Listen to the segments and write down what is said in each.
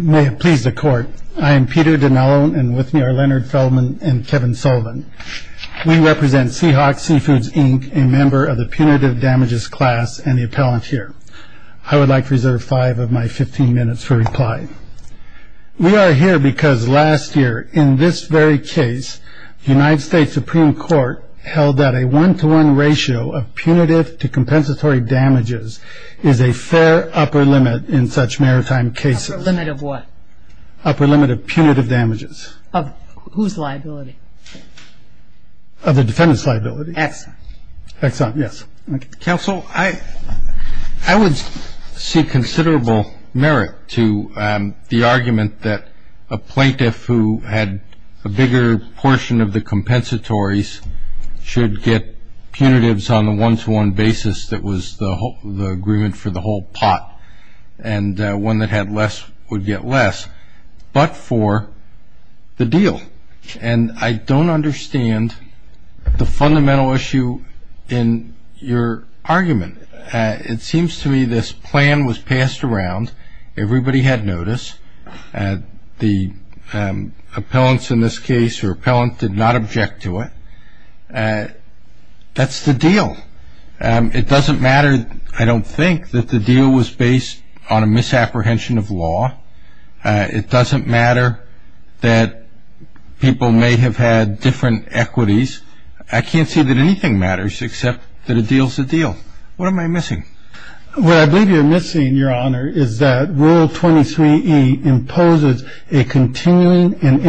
May it please the Court, I am Peter Dinello, and with me are Leonard Feldman and Kevin Sullivan. We represent Seahawk Seafoods, Inc., a member of the Punitive Damages class and the appellant here. I would like to reserve five of my 15 minutes for reply. We are here because last year, in this very case, the United States Supreme Court held that a one-to-one ratio of punitive to compensatory damages is a fair upper limit in such maritime cases. Upper limit of what? Upper limit of punitive damages. Of whose liability? Of the defendant's liability. Exxon. Exxon, yes. Counsel, I would see considerable merit to the argument that a plaintiff who had a bigger portion of the compensatories should get punitives on the one-to-one basis that was the agreement for the whole pot, and one that had less would get less, but for the deal. And I don't understand the fundamental issue in your argument. It seems to me this plan was passed around. Everybody had notice. The appellants in this case or appellant did not object to it. That's the deal. It doesn't matter, I don't think, that the deal was based on a misapprehension of law. It doesn't matter that people may have had different equities. I can't see that anything matters except that a deal's a deal. What am I missing? What I believe you're missing, Your Honor, is that Rule 23E imposes a continuing and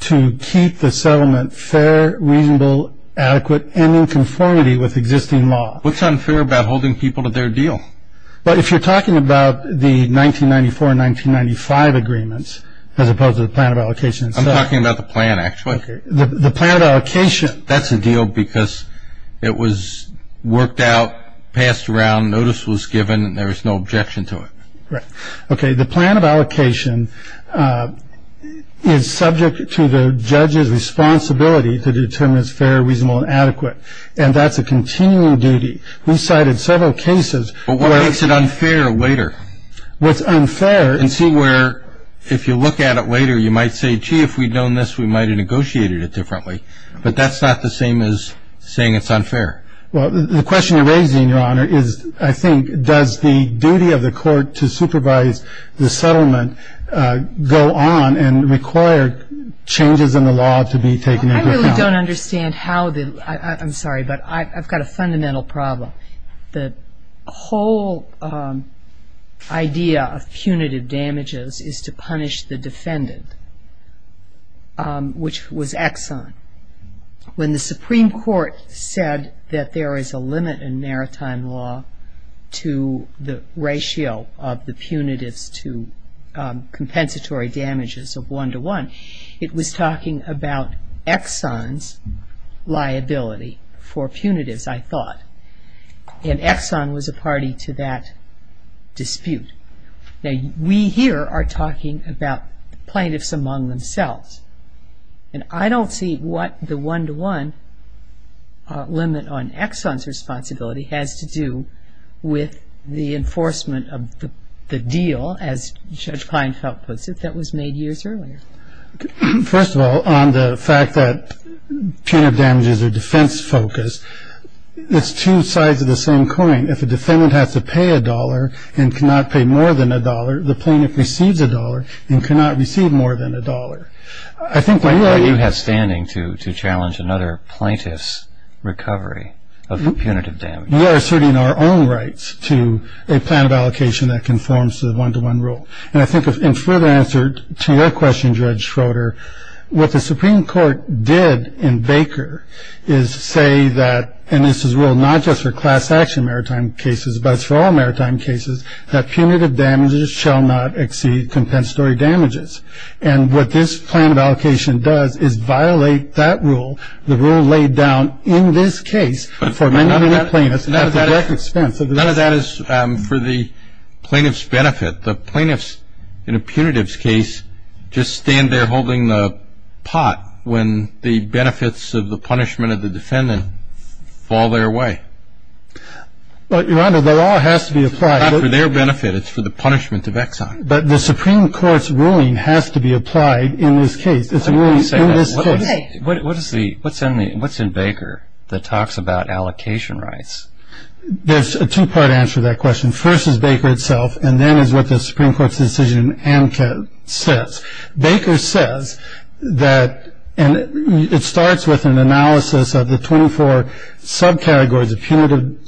to keep the settlement fair, reasonable, adequate, and in conformity with existing law. What's unfair about holding people to their deal? But if you're talking about the 1994 and 1995 agreements, as opposed to the plan of allocation itself. I'm talking about the plan, actually. Okay. The plan of allocation. That's a deal because it was worked out, passed around, notice was given, and there was no objection to it. Right. Okay. The plan of allocation is subject to the judge's responsibility to determine it's fair, reasonable, and adequate. And that's a continuing duty. We cited several cases where But what makes it unfair later? What's unfair And see where, if you look at it later, you might say, gee, if we'd known this, we might have negotiated it differently. But that's not the same as saying it's unfair. Well, the question you're raising, Your Honor, is, I think, does the duty of the court to supervise the settlement go on and require changes in the law to be taken into account? I really don't understand how the, I'm sorry, but I've got a fundamental problem. The whole idea of punitive damages is to punish the defendant, which was Exxon. When the Supreme Court said that there is a limit in maritime law to the ratio of the punitives to compensatory damages of one-to-one, it was talking about Exxon's liability for punitives, I thought. And Exxon was a party to that dispute. Now, we here are talking about plaintiffs among themselves. And I don't see what the one-to-one limit on Exxon's responsibility has to do with the enforcement of the deal, as Judge Kleinfeld puts it, that was made years earlier. First of all, on the fact that punitive damages are defense-focused, it's two sides of the same coin. If a defendant has to pay a dollar and cannot pay more than a dollar, the plaintiff receives a dollar and cannot receive more than a dollar. I think what you have standing to challenge another plaintiff's recovery of the punitive damages. We are asserting our own rights to a plan of allocation that conforms to the one-to-one rule. And I think in further answer to your question, Judge Schroeder, what the Supreme Court did in Baker is say that, and this is ruled not just for class-action maritime cases, but it's for all maritime cases, that punitive damages shall not exceed compensatory damages. And what this plan of allocation does is violate that rule, the rule laid down in this case for many, many plaintiffs. None of that is for the plaintiff's benefit. The plaintiffs in a punitive's case just stand there holding the pot when the benefits of the punishment of the defendant fall their way. But, Your Honor, the law has to be applied. It's not for their benefit. It's for the punishment of Exxon. But the Supreme Court's ruling has to be applied in this case. It's a ruling in this case. What is the, what's in Baker that talks about allocation rights? There's a two-part answer to that question. First is Baker itself, and then is what the Supreme Court's decision in Amcot says. Baker says that, and it starts with an analysis of the 24 subcategories of punitive,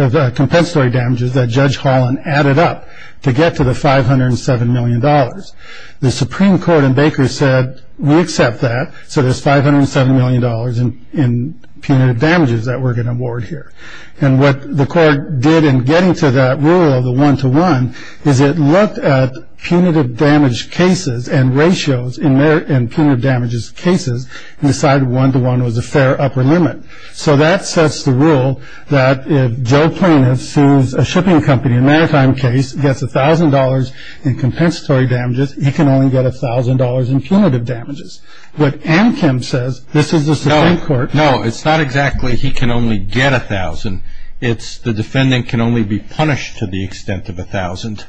of compensatory damages that Judge Holland added up to get to the $507 million. The Supreme Court in Baker said, we accept that, so there's $507 million in punitive damages that we're going to award here. And what the court did in getting to that rule, the one-to-one, is it looked at punitive damage cases and ratios in their, in punitive damages cases, and decided one-to-one was a fair upper limit. So that sets the rule that if Joe Plain has sued a shipping company, a maritime case, gets $1,000 in compensatory damages, he can only get $1,000 in punitive damages. But Amcot says, this is the Supreme Court. No, no, it's not exactly he can only get $1,000. It's the defendant can only be punished to the extent of $1,000.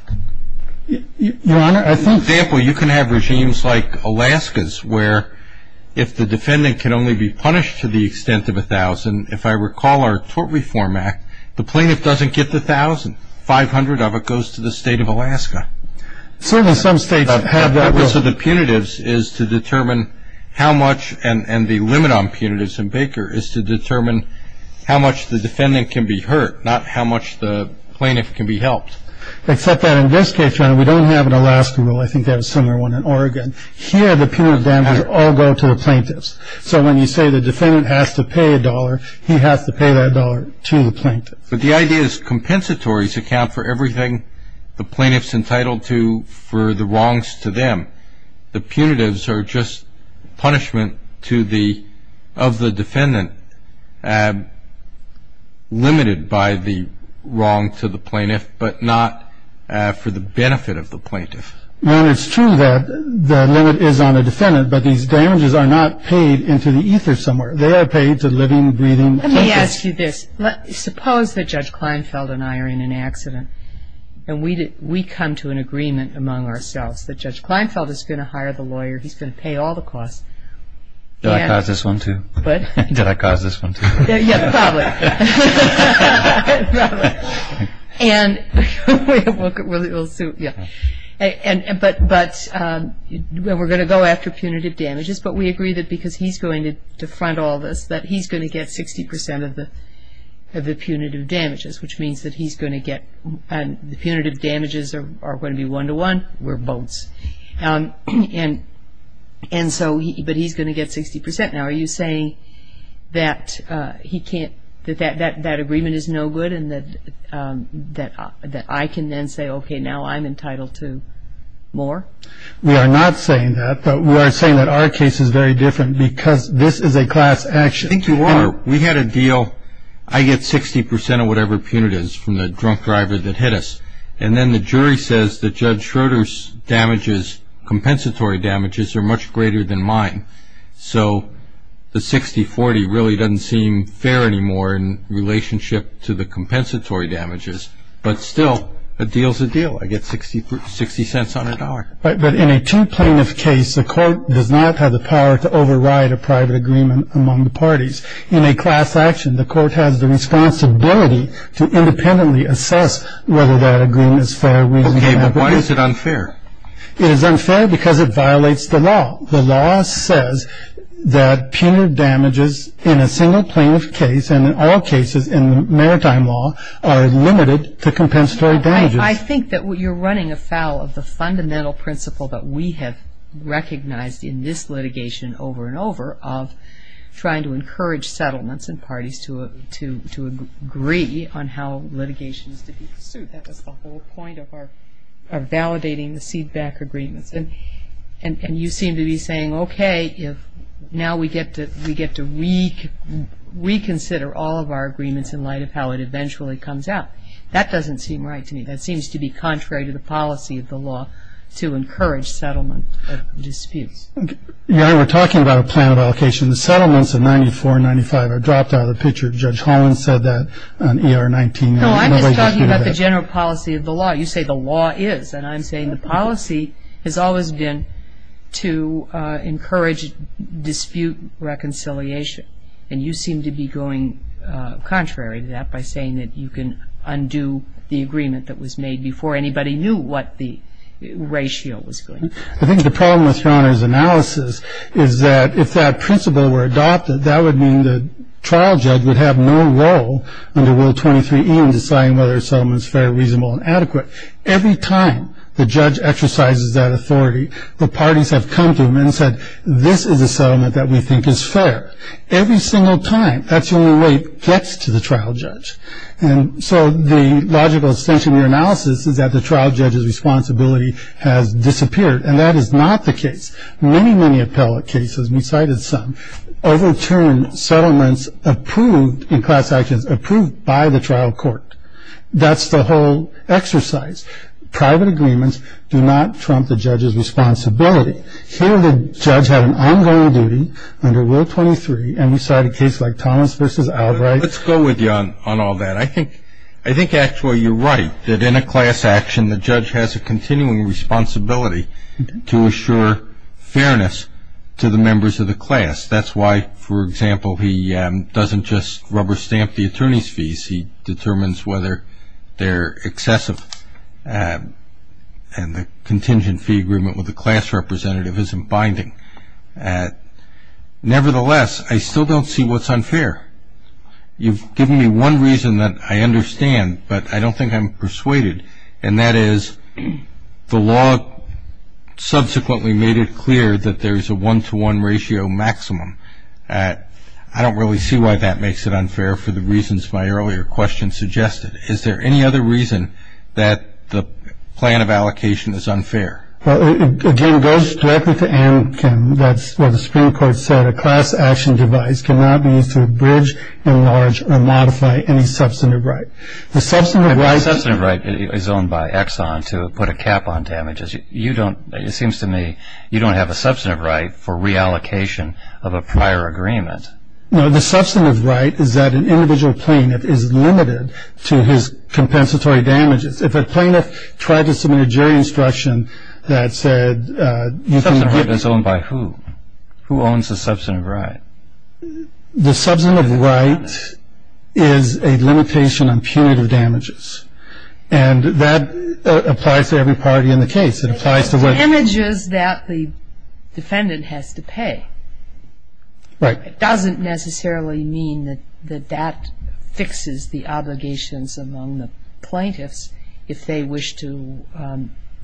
Your Honor, I think... For example, you can have regimes like Alaska's, where if the defendant can only be punished to the extent of $1,000, if I recall our Tort Reform Act, the plaintiff doesn't get the $1,000. 500 of it goes to the state of Alaska. Certainly, some states have that rule. So the punitives is to determine how much, and the limit on punitives in Baker is to determine how much the defendant can be hurt, not how much the plaintiff can be helped. Except that in this case, Your Honor, we don't have an Alaska rule. I think they have a similar one in Oregon. Here, the punitive damages all go to the plaintiffs. So when you say the defendant has to pay $1, he has to pay that $1 to the plaintiff. But the idea is compensatories account for everything the plaintiff's entitled to for the wrongs to them. The punitives are just punishment to the, of the defendant, limited by the wrong to the plaintiff, but not for the benefit of the plaintiff. And it's true that the limit is on the defendant, but these damages are not paid into the ether somewhere. They are paid to living, breathing persons. Let me ask you this. Suppose that Judge Kleinfeld and I are in an accident, and we come to an agreement among ourselves that Judge Kleinfeld is going to hire the lawyer, he's going to pay all the costs. Did I cause this one, too? What? Did I cause this one, too? Yeah, probably. And we'll see, yeah, but we're going to go after punitive damages, but we agree that because he's going to defund all this, that he's going to get 60% of the punitive damages, which means that he's going to get, the punitive damages are going to be one-to-one, we're bones. And so, but he's going to get 60%. Now, are you saying that he can't, that that agreement is no good, and that I can then say, okay, now I'm entitled to more? We are not saying that, but we are saying that our case is very different because this is a class action. I think you are. And we had a deal, I get 60% of whatever punitive is from the drunk driver that hit us. And then the jury says that Judge Schroeder's damages, compensatory damages, are much greater than mine. So, the 60-40 really doesn't seem fair anymore in relationship to the compensatory damages. But still, a deal's a deal. I get 60 cents on a dollar. Right, but in a two plaintiff case, the court does not have the power to override a private agreement among the parties. In a class action, the court has the responsibility to independently assess whether that agreement is fair, reasonable or not. Okay, but why is it unfair? It is unfair because it violates the law. The law says that punitive damages in a single plaintiff case and in all cases in the maritime law are limited to compensatory damages. I think that you're running afoul of the fundamental principle that we have recognized in this litigation over and over of trying to encourage settlements and parties to agree on how litigation is to be pursued. That was the whole point of our validating the CEDBAC agreements. And you seem to be saying, okay, now we get to reconsider all of our agreements in light of how it eventually comes out. That doesn't seem right to me. That seems to be contrary to the policy of the law to encourage settlement disputes. You know, we're talking about a plan of allocation. The settlements in 94 and 95 are dropped out of the picture. Judge Holland said that on ER 19. No, I'm just talking about the general policy of the law. You say the law is. And I'm saying the policy has always been to encourage dispute reconciliation. And you seem to be going contrary to that by saying that you can undo the agreement that was made before anybody knew what the ratio was going to be. I think the problem with Rauner's analysis is that if that principle were adopted, that would mean the trial judge would have no role under Rule 23E in deciding whether a settlement is fair, reasonable, and adequate. Every time the judge exercises that authority, the parties have come to him and said, this is a settlement that we think is fair. Every single time, that's the only way it gets to the trial judge. And so the logical extension of your analysis is that the trial judge's responsibility has disappeared. And that is not the case. Many, many appellate cases, we cited some, overturn settlements approved in class actions, approved by the trial court. That's the whole exercise. Private agreements do not trump the judge's responsibility. Here the judge had an ongoing duty under Rule 23, and we cite a case like Thomas v. Albright. Let's go with you on all that. I think actually you're right, that in a class action, the judge has a continuing responsibility to assure fairness to the members of the class. That's why, for example, he doesn't just rubber stamp the attorney's fees. He determines whether they're excessive. And the contingent fee agreement with the class representative isn't binding. Nevertheless, I still don't see what's unfair. You've given me one reason that I understand, but I don't think I'm persuaded, and that is the law subsequently made it clear that there's a one-to-one ratio maximum. I don't really see why that makes it unfair for the reasons my earlier question suggested. Is there any other reason that the plan of allocation is unfair? Again, it goes directly to Ann Kim. That's what the Supreme Court said. A class action device cannot be used to bridge, enlarge, or modify any substantive right. The substantive right is owned by Exxon to put a cap on damages. You don't, it seems to me, you don't have a substantive right for reallocation of a prior agreement. No, the substantive right is that an individual plaintiff is limited to his compensatory damages. If a plaintiff tried to submit a jury instruction that said you can give them. Substantive right is owned by who? Who owns the substantive right? The substantive right is a limitation on punitive damages, and that applies to every party in the case. It applies to what? It's to damages that the defendant has to pay. Right. It doesn't necessarily mean that that fixes the obligations among the plaintiffs if they wish to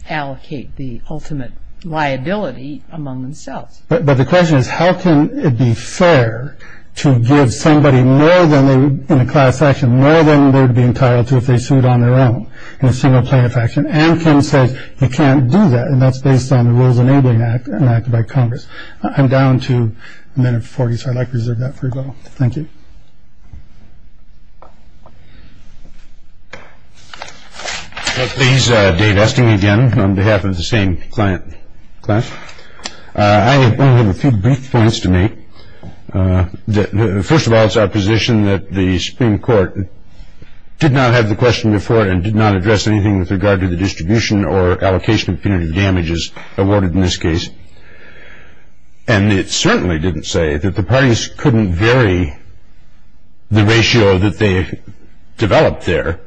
allocate the ultimate liability among themselves. But the question is how can it be fair to give somebody more than they would in a class action, more than they would be entitled to if they sued on their own in a single plaintiff action? And Ken says you can't do that, and that's based on the Rules Enabling Act enacted by Congress. I'm down to a minute and 40, so I'd like to reserve that for you all. Thank you. Please, Dave Esting again on behalf of the same client. I have a few brief points to make. First of all, it's our position that the Supreme Court did not have the question before and did not address anything with regard to the distribution or allocation of punitive damages awarded in this case. And it certainly didn't say that the parties couldn't vary the ratio that they developed there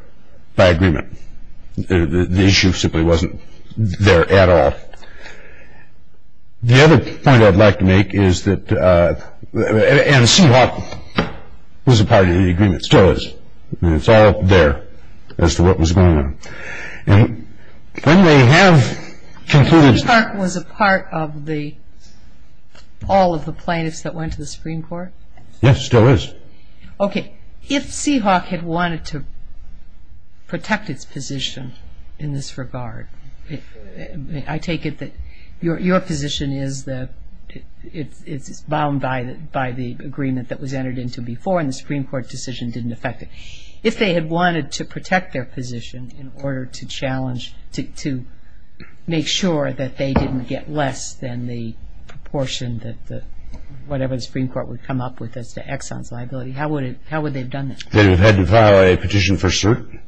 by agreement. The issue simply wasn't there at all. The other point I'd like to make is that, and Seahawk was a party to the agreement, still is. It's all there as to what was going on. And when they have concluded- Seahawk was a part of all of the plaintiffs that went to the Supreme Court? Yes, still is. Okay, if Seahawk had wanted to protect its position in this regard, I take it that your position is that it's bound by the agreement that was entered into before and the Supreme Court decision didn't affect it. If they had wanted to protect their position in order to challenge, to make sure that they didn't get less than the proportion that whatever the Supreme Court would come up with as to Exxon's liability, how would they have done this? They would have had to file a petition for cert,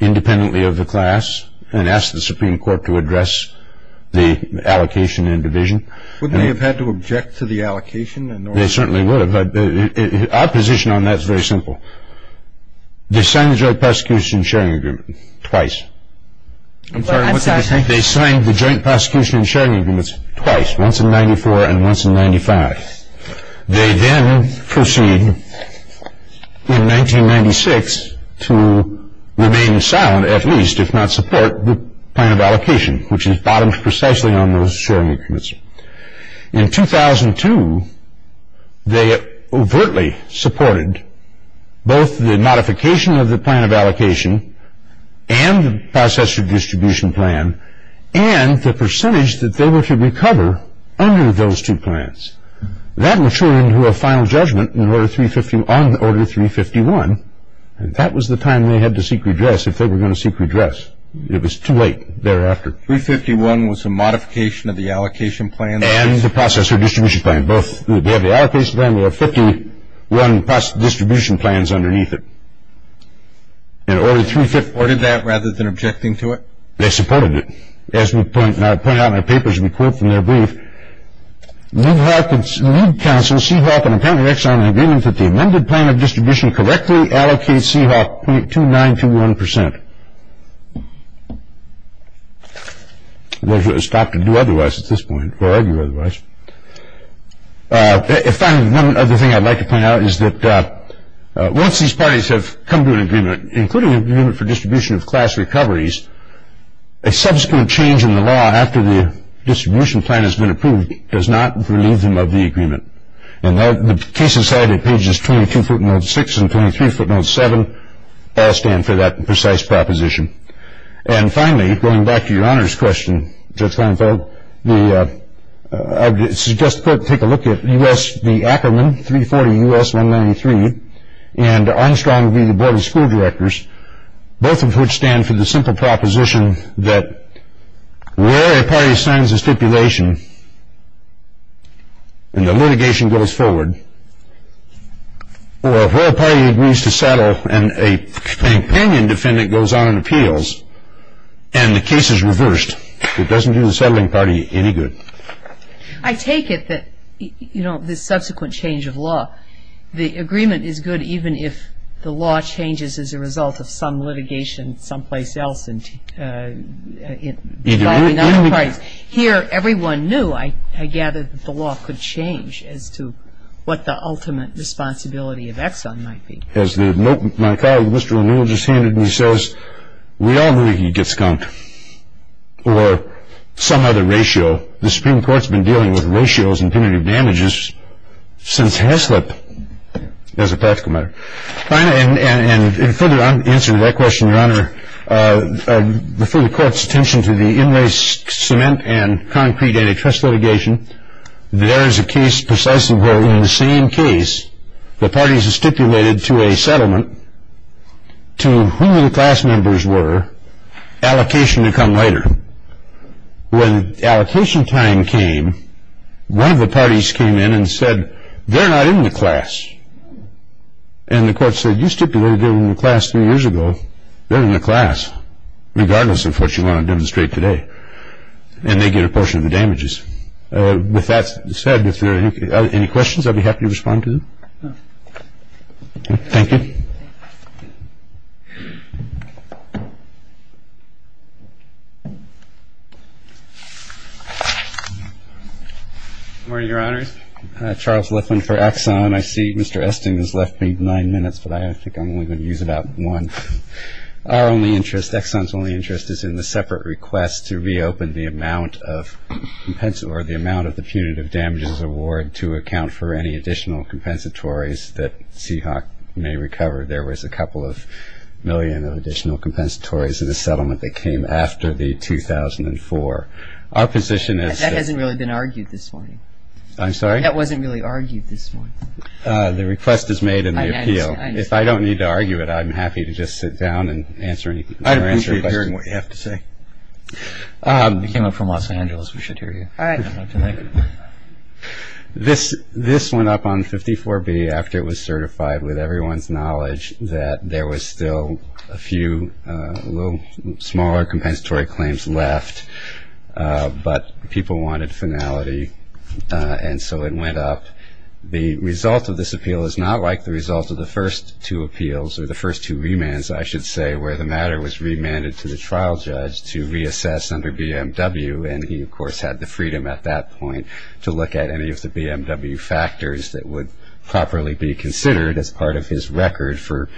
independently of the class, and ask the Supreme Court to address the allocation and division. Wouldn't they have had to object to the allocation? They certainly would have, but our position on that is very simple. They signed the Joint Prosecution and Sharing Agreement twice. I'm sorry, what did you say? They signed the Joint Prosecution and Sharing Agreement twice, once in 1994 and once in 1995. They then proceed in 1996 to remain silent, at least, if not support the plan of allocation, which is bottomed precisely on those sharing agreements. In 2002, they overtly supported both the modification of the plan of allocation and the process of distribution plan, and the percentage that they were to recover under those two plans. That matured into a final judgment on Order 351, and that was the time they had to seek redress if they were going to seek redress. It was too late thereafter. Order 351 was a modification of the allocation plan? And the process of distribution plan. They have the allocation plan, they have 51 distribution plans underneath it. And Order 351 supported that, rather than objecting to it? They supported it. As we point out in our papers, we quote from their brief, Lube Council, Seahawk, and Appellant Rexon agree that the amended plan of distribution correctly allocates Seahawk 0.2921 percent. Stop to do otherwise at this point, or argue otherwise. Finally, one other thing I'd like to point out is that once these parties have come to an agreement, including an agreement for distribution of class recoveries, a subsequent change in the law after the distribution plan has been approved does not relieve them of the agreement. And the cases cited at pages 22 footnote 6 and 23 footnote 7 all stand for that precise proposition. And finally, going back to your honors question, Judge Leinfeld, I suggest we take a look at U.S. v. Ackerman, 340 U.S. 193, and Armstrong v. the Board of School Directors, both of which stand for the simple proposition that where a party signs a stipulation, and the litigation goes forward, or where a party agrees to settle, and a companion defendant goes on and appeals, and the case is reversed, it doesn't do the settling party any good. I take it that, you know, this subsequent change of law, the agreement is good even if the law changes as a result of some litigation someplace else, and involving other parties. Here, everyone knew, I gather, that the law could change as to what the ultimate responsibility of Exxon might be. As my colleague Mr. O'Neill just handed me says, we all know he'd get skunked, or some other ratio. The Supreme Court's been dealing with ratios and punitive damages since Haslip, as a practical matter. And in further answer to that question, your honor, I refer the court's attention to the in-lace cement and concrete antitrust litigation. There is a case precisely where in the same case, the parties have stipulated to a settlement to whom the class members were, allocation to come later. When allocation time came, one of the parties came in and said, they're not in the class. And the court said, you stipulated they were in the class three years ago. They're in the class, regardless of what you want to demonstrate today. And they get a portion of the damages. With that said, if there are any questions, I'll be happy to respond to them. Thank you. Good morning, your honors. Charles Lifflin for Exxon. I see Mr. Esting has left me nine minutes, but I think I'm only going to use about one. Our only interest, Exxon's only interest, is in the separate request to reopen the amount of, or the amount of the punitive damages award to account for any additional compensatories that Seahawk may recover. There was a couple of million of additional compensatories in the settlement that came after the 2004. Our position is that- That hasn't really been argued this morning. I'm sorry? That wasn't really argued this morning. The request is made in the appeal. If I don't need to argue it, I'm happy to just sit down and answer any questions. I don't need to be hearing what you have to say. You came up from Los Angeles. We should hear you. All right. Thank you. This went up on 54B after it was certified with everyone's knowledge that there was still a few little smaller compensatory claims left, but people wanted finality, and so it went up. The result of this appeal is not like the result of the first two appeals, or the first two remands I should say, where the matter was remanded to the trial judge to reassess under BMW, and he, of course, had the freedom at that point to look at any of the BMW factors that would properly be considered as part of his record for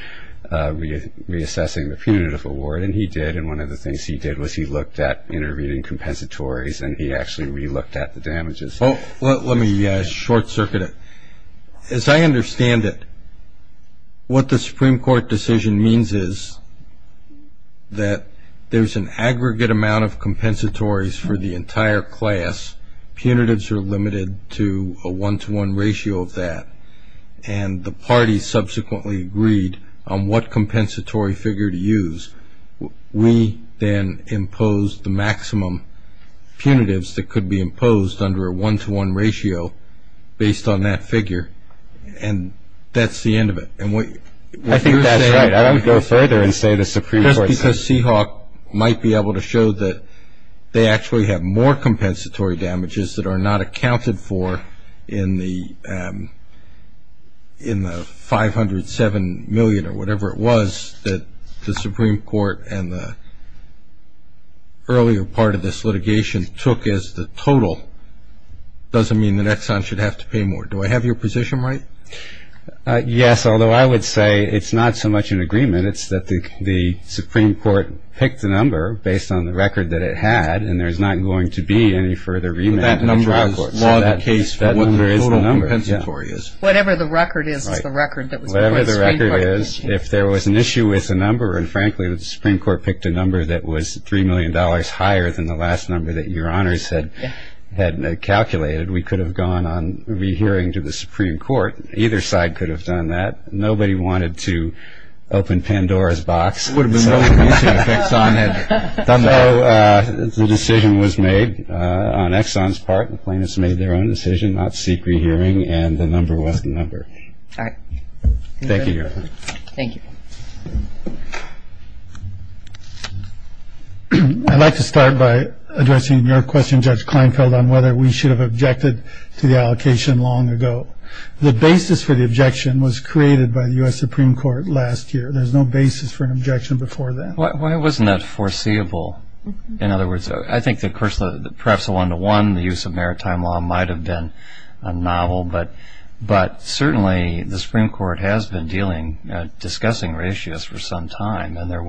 reassessing the punitive award, and he did. And one of the things he did was he looked at intervening compensatories, and he actually relooked at the damages. Let me short circuit it. As I understand it, what the Supreme Court decision means is that there's an aggregate amount of compensatories for the entire class. Punitives are limited to a one-to-one ratio of that, and the parties subsequently agreed on what compensatory figure to use. We then imposed the maximum punitives that could be imposed under a one-to-one ratio based on that figure, and that's the end of it. I think that's right. I would go further and say the Supreme Court said that. The Seahawk might be able to show that they actually have more compensatory damages that are not accounted for in the $507 million or whatever it was that the Supreme Court and the earlier part of this litigation took as the total. It doesn't mean that Exxon should have to pay more. Do I have your position right? Yes, although I would say it's not so much an agreement. It's that the Supreme Court picked the number based on the record that it had, and there's not going to be any further remand in the trial court. That number is the number. Whatever the record is is the record that was before the Supreme Court. Whatever the record is, if there was an issue with the number, and frankly the Supreme Court picked a number that was $3 million higher than the last number that your honors had calculated, we could have gone on rehearing to the Supreme Court. Either side could have done that. Nobody wanted to open Pandora's box, so the decision was made on Exxon's part. The plaintiffs made their own decision, not seek rehearing, and the number was the number. All right. Thank you, Your Honor. Thank you. I'd like to start by addressing your question, Judge Kleinfeld, on whether we should have objected to the allocation long ago. The basis for the objection was created by the U.S. Supreme Court last year. There's no basis for an objection before then. Why wasn't that foreseeable? In other words, I think perhaps the one-to-one, the use of maritime law might have been novel, but certainly the Supreme Court has been discussing ratios for some time, and there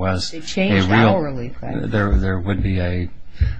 would be a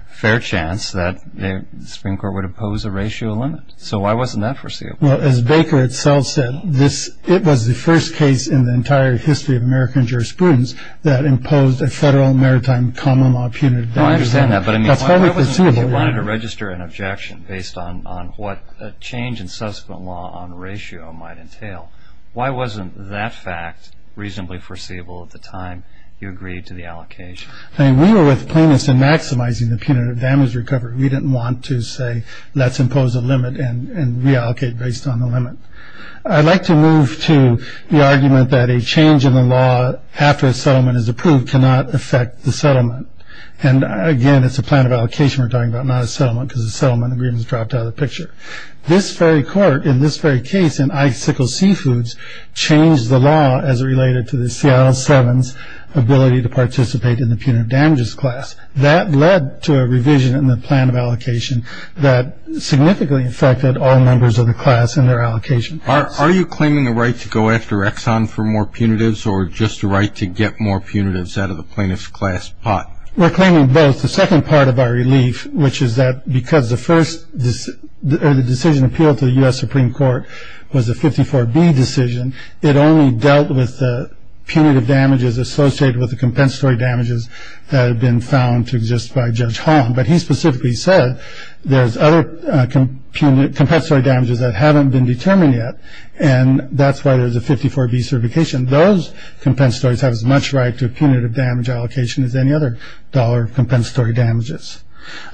fair chance that the Supreme Court would oppose a ratio limit. So why wasn't that foreseeable? Well, as Baker itself said, it was the first case in the entire history of American jurisprudence that imposed a federal maritime common law punitive damages limit. Oh, I understand that, but I mean, why wasn't it that you wanted to register an objection based on what a change in subsequent law on ratio might entail? Why wasn't that fact reasonably foreseeable at the time you agreed to the allocation? I mean, we were with plaintiffs in maximizing the punitive damage recovery. We didn't want to say let's impose a limit and reallocate based on the limit. I'd like to move to the argument that a change in the law after a settlement is approved cannot affect the settlement. And, again, it's a plan of allocation we're talking about, not a settlement, because the settlement agreement is dropped out of the picture. This very court in this very case in Icicle Seafoods changed the law as it related to the Seattle 7's ability to participate in the punitive damages class. That led to a revision in the plan of allocation that significantly affected all members of the class in their allocation. Are you claiming the right to go after Exxon for more punitives or just the right to get more punitives out of the plaintiff's class pot? We're claiming both. The second part of our relief, which is that because the decision appealed to the U.S. Supreme Court was a 54B decision, it only dealt with the punitive damages associated with the compensatory damages that had been found to exist by Judge Hall. But he specifically said there's other compensatory damages that haven't been determined yet, and that's why there's a 54B certification. Those compensatories have as much right to a punitive damage allocation as any other dollar of compensatory damages.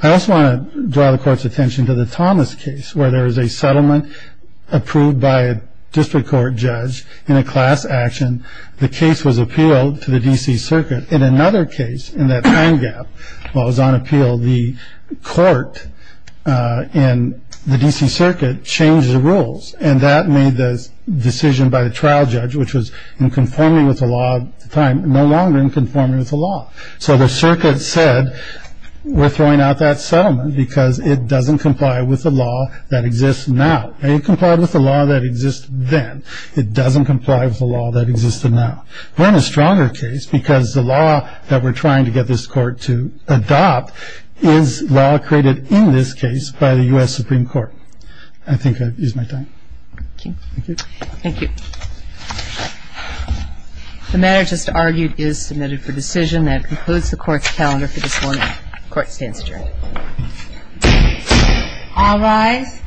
I also want to draw the Court's attention to the Thomas case, where there is a settlement approved by a district court judge in a class action. The case was appealed to the D.C. Circuit. In another case, in that time gap while it was on appeal, the court in the D.C. Circuit changed the rules, and that made the decision by the trial judge, which was in conforming with the law at the time, no longer in conforming with the law. So the Circuit said we're throwing out that settlement because it doesn't comply with the law that exists now. It complied with the law that exists then. It doesn't comply with the law that exists now. We're in a stronger case because the law that we're trying to get this Court to adopt is law created in this case by the U.S. Supreme Court. I think I've used my time. Thank you. Thank you. The matter just argued is submitted for decision. That concludes the Court's calendar for this morning. Court stands adjourned. All rise.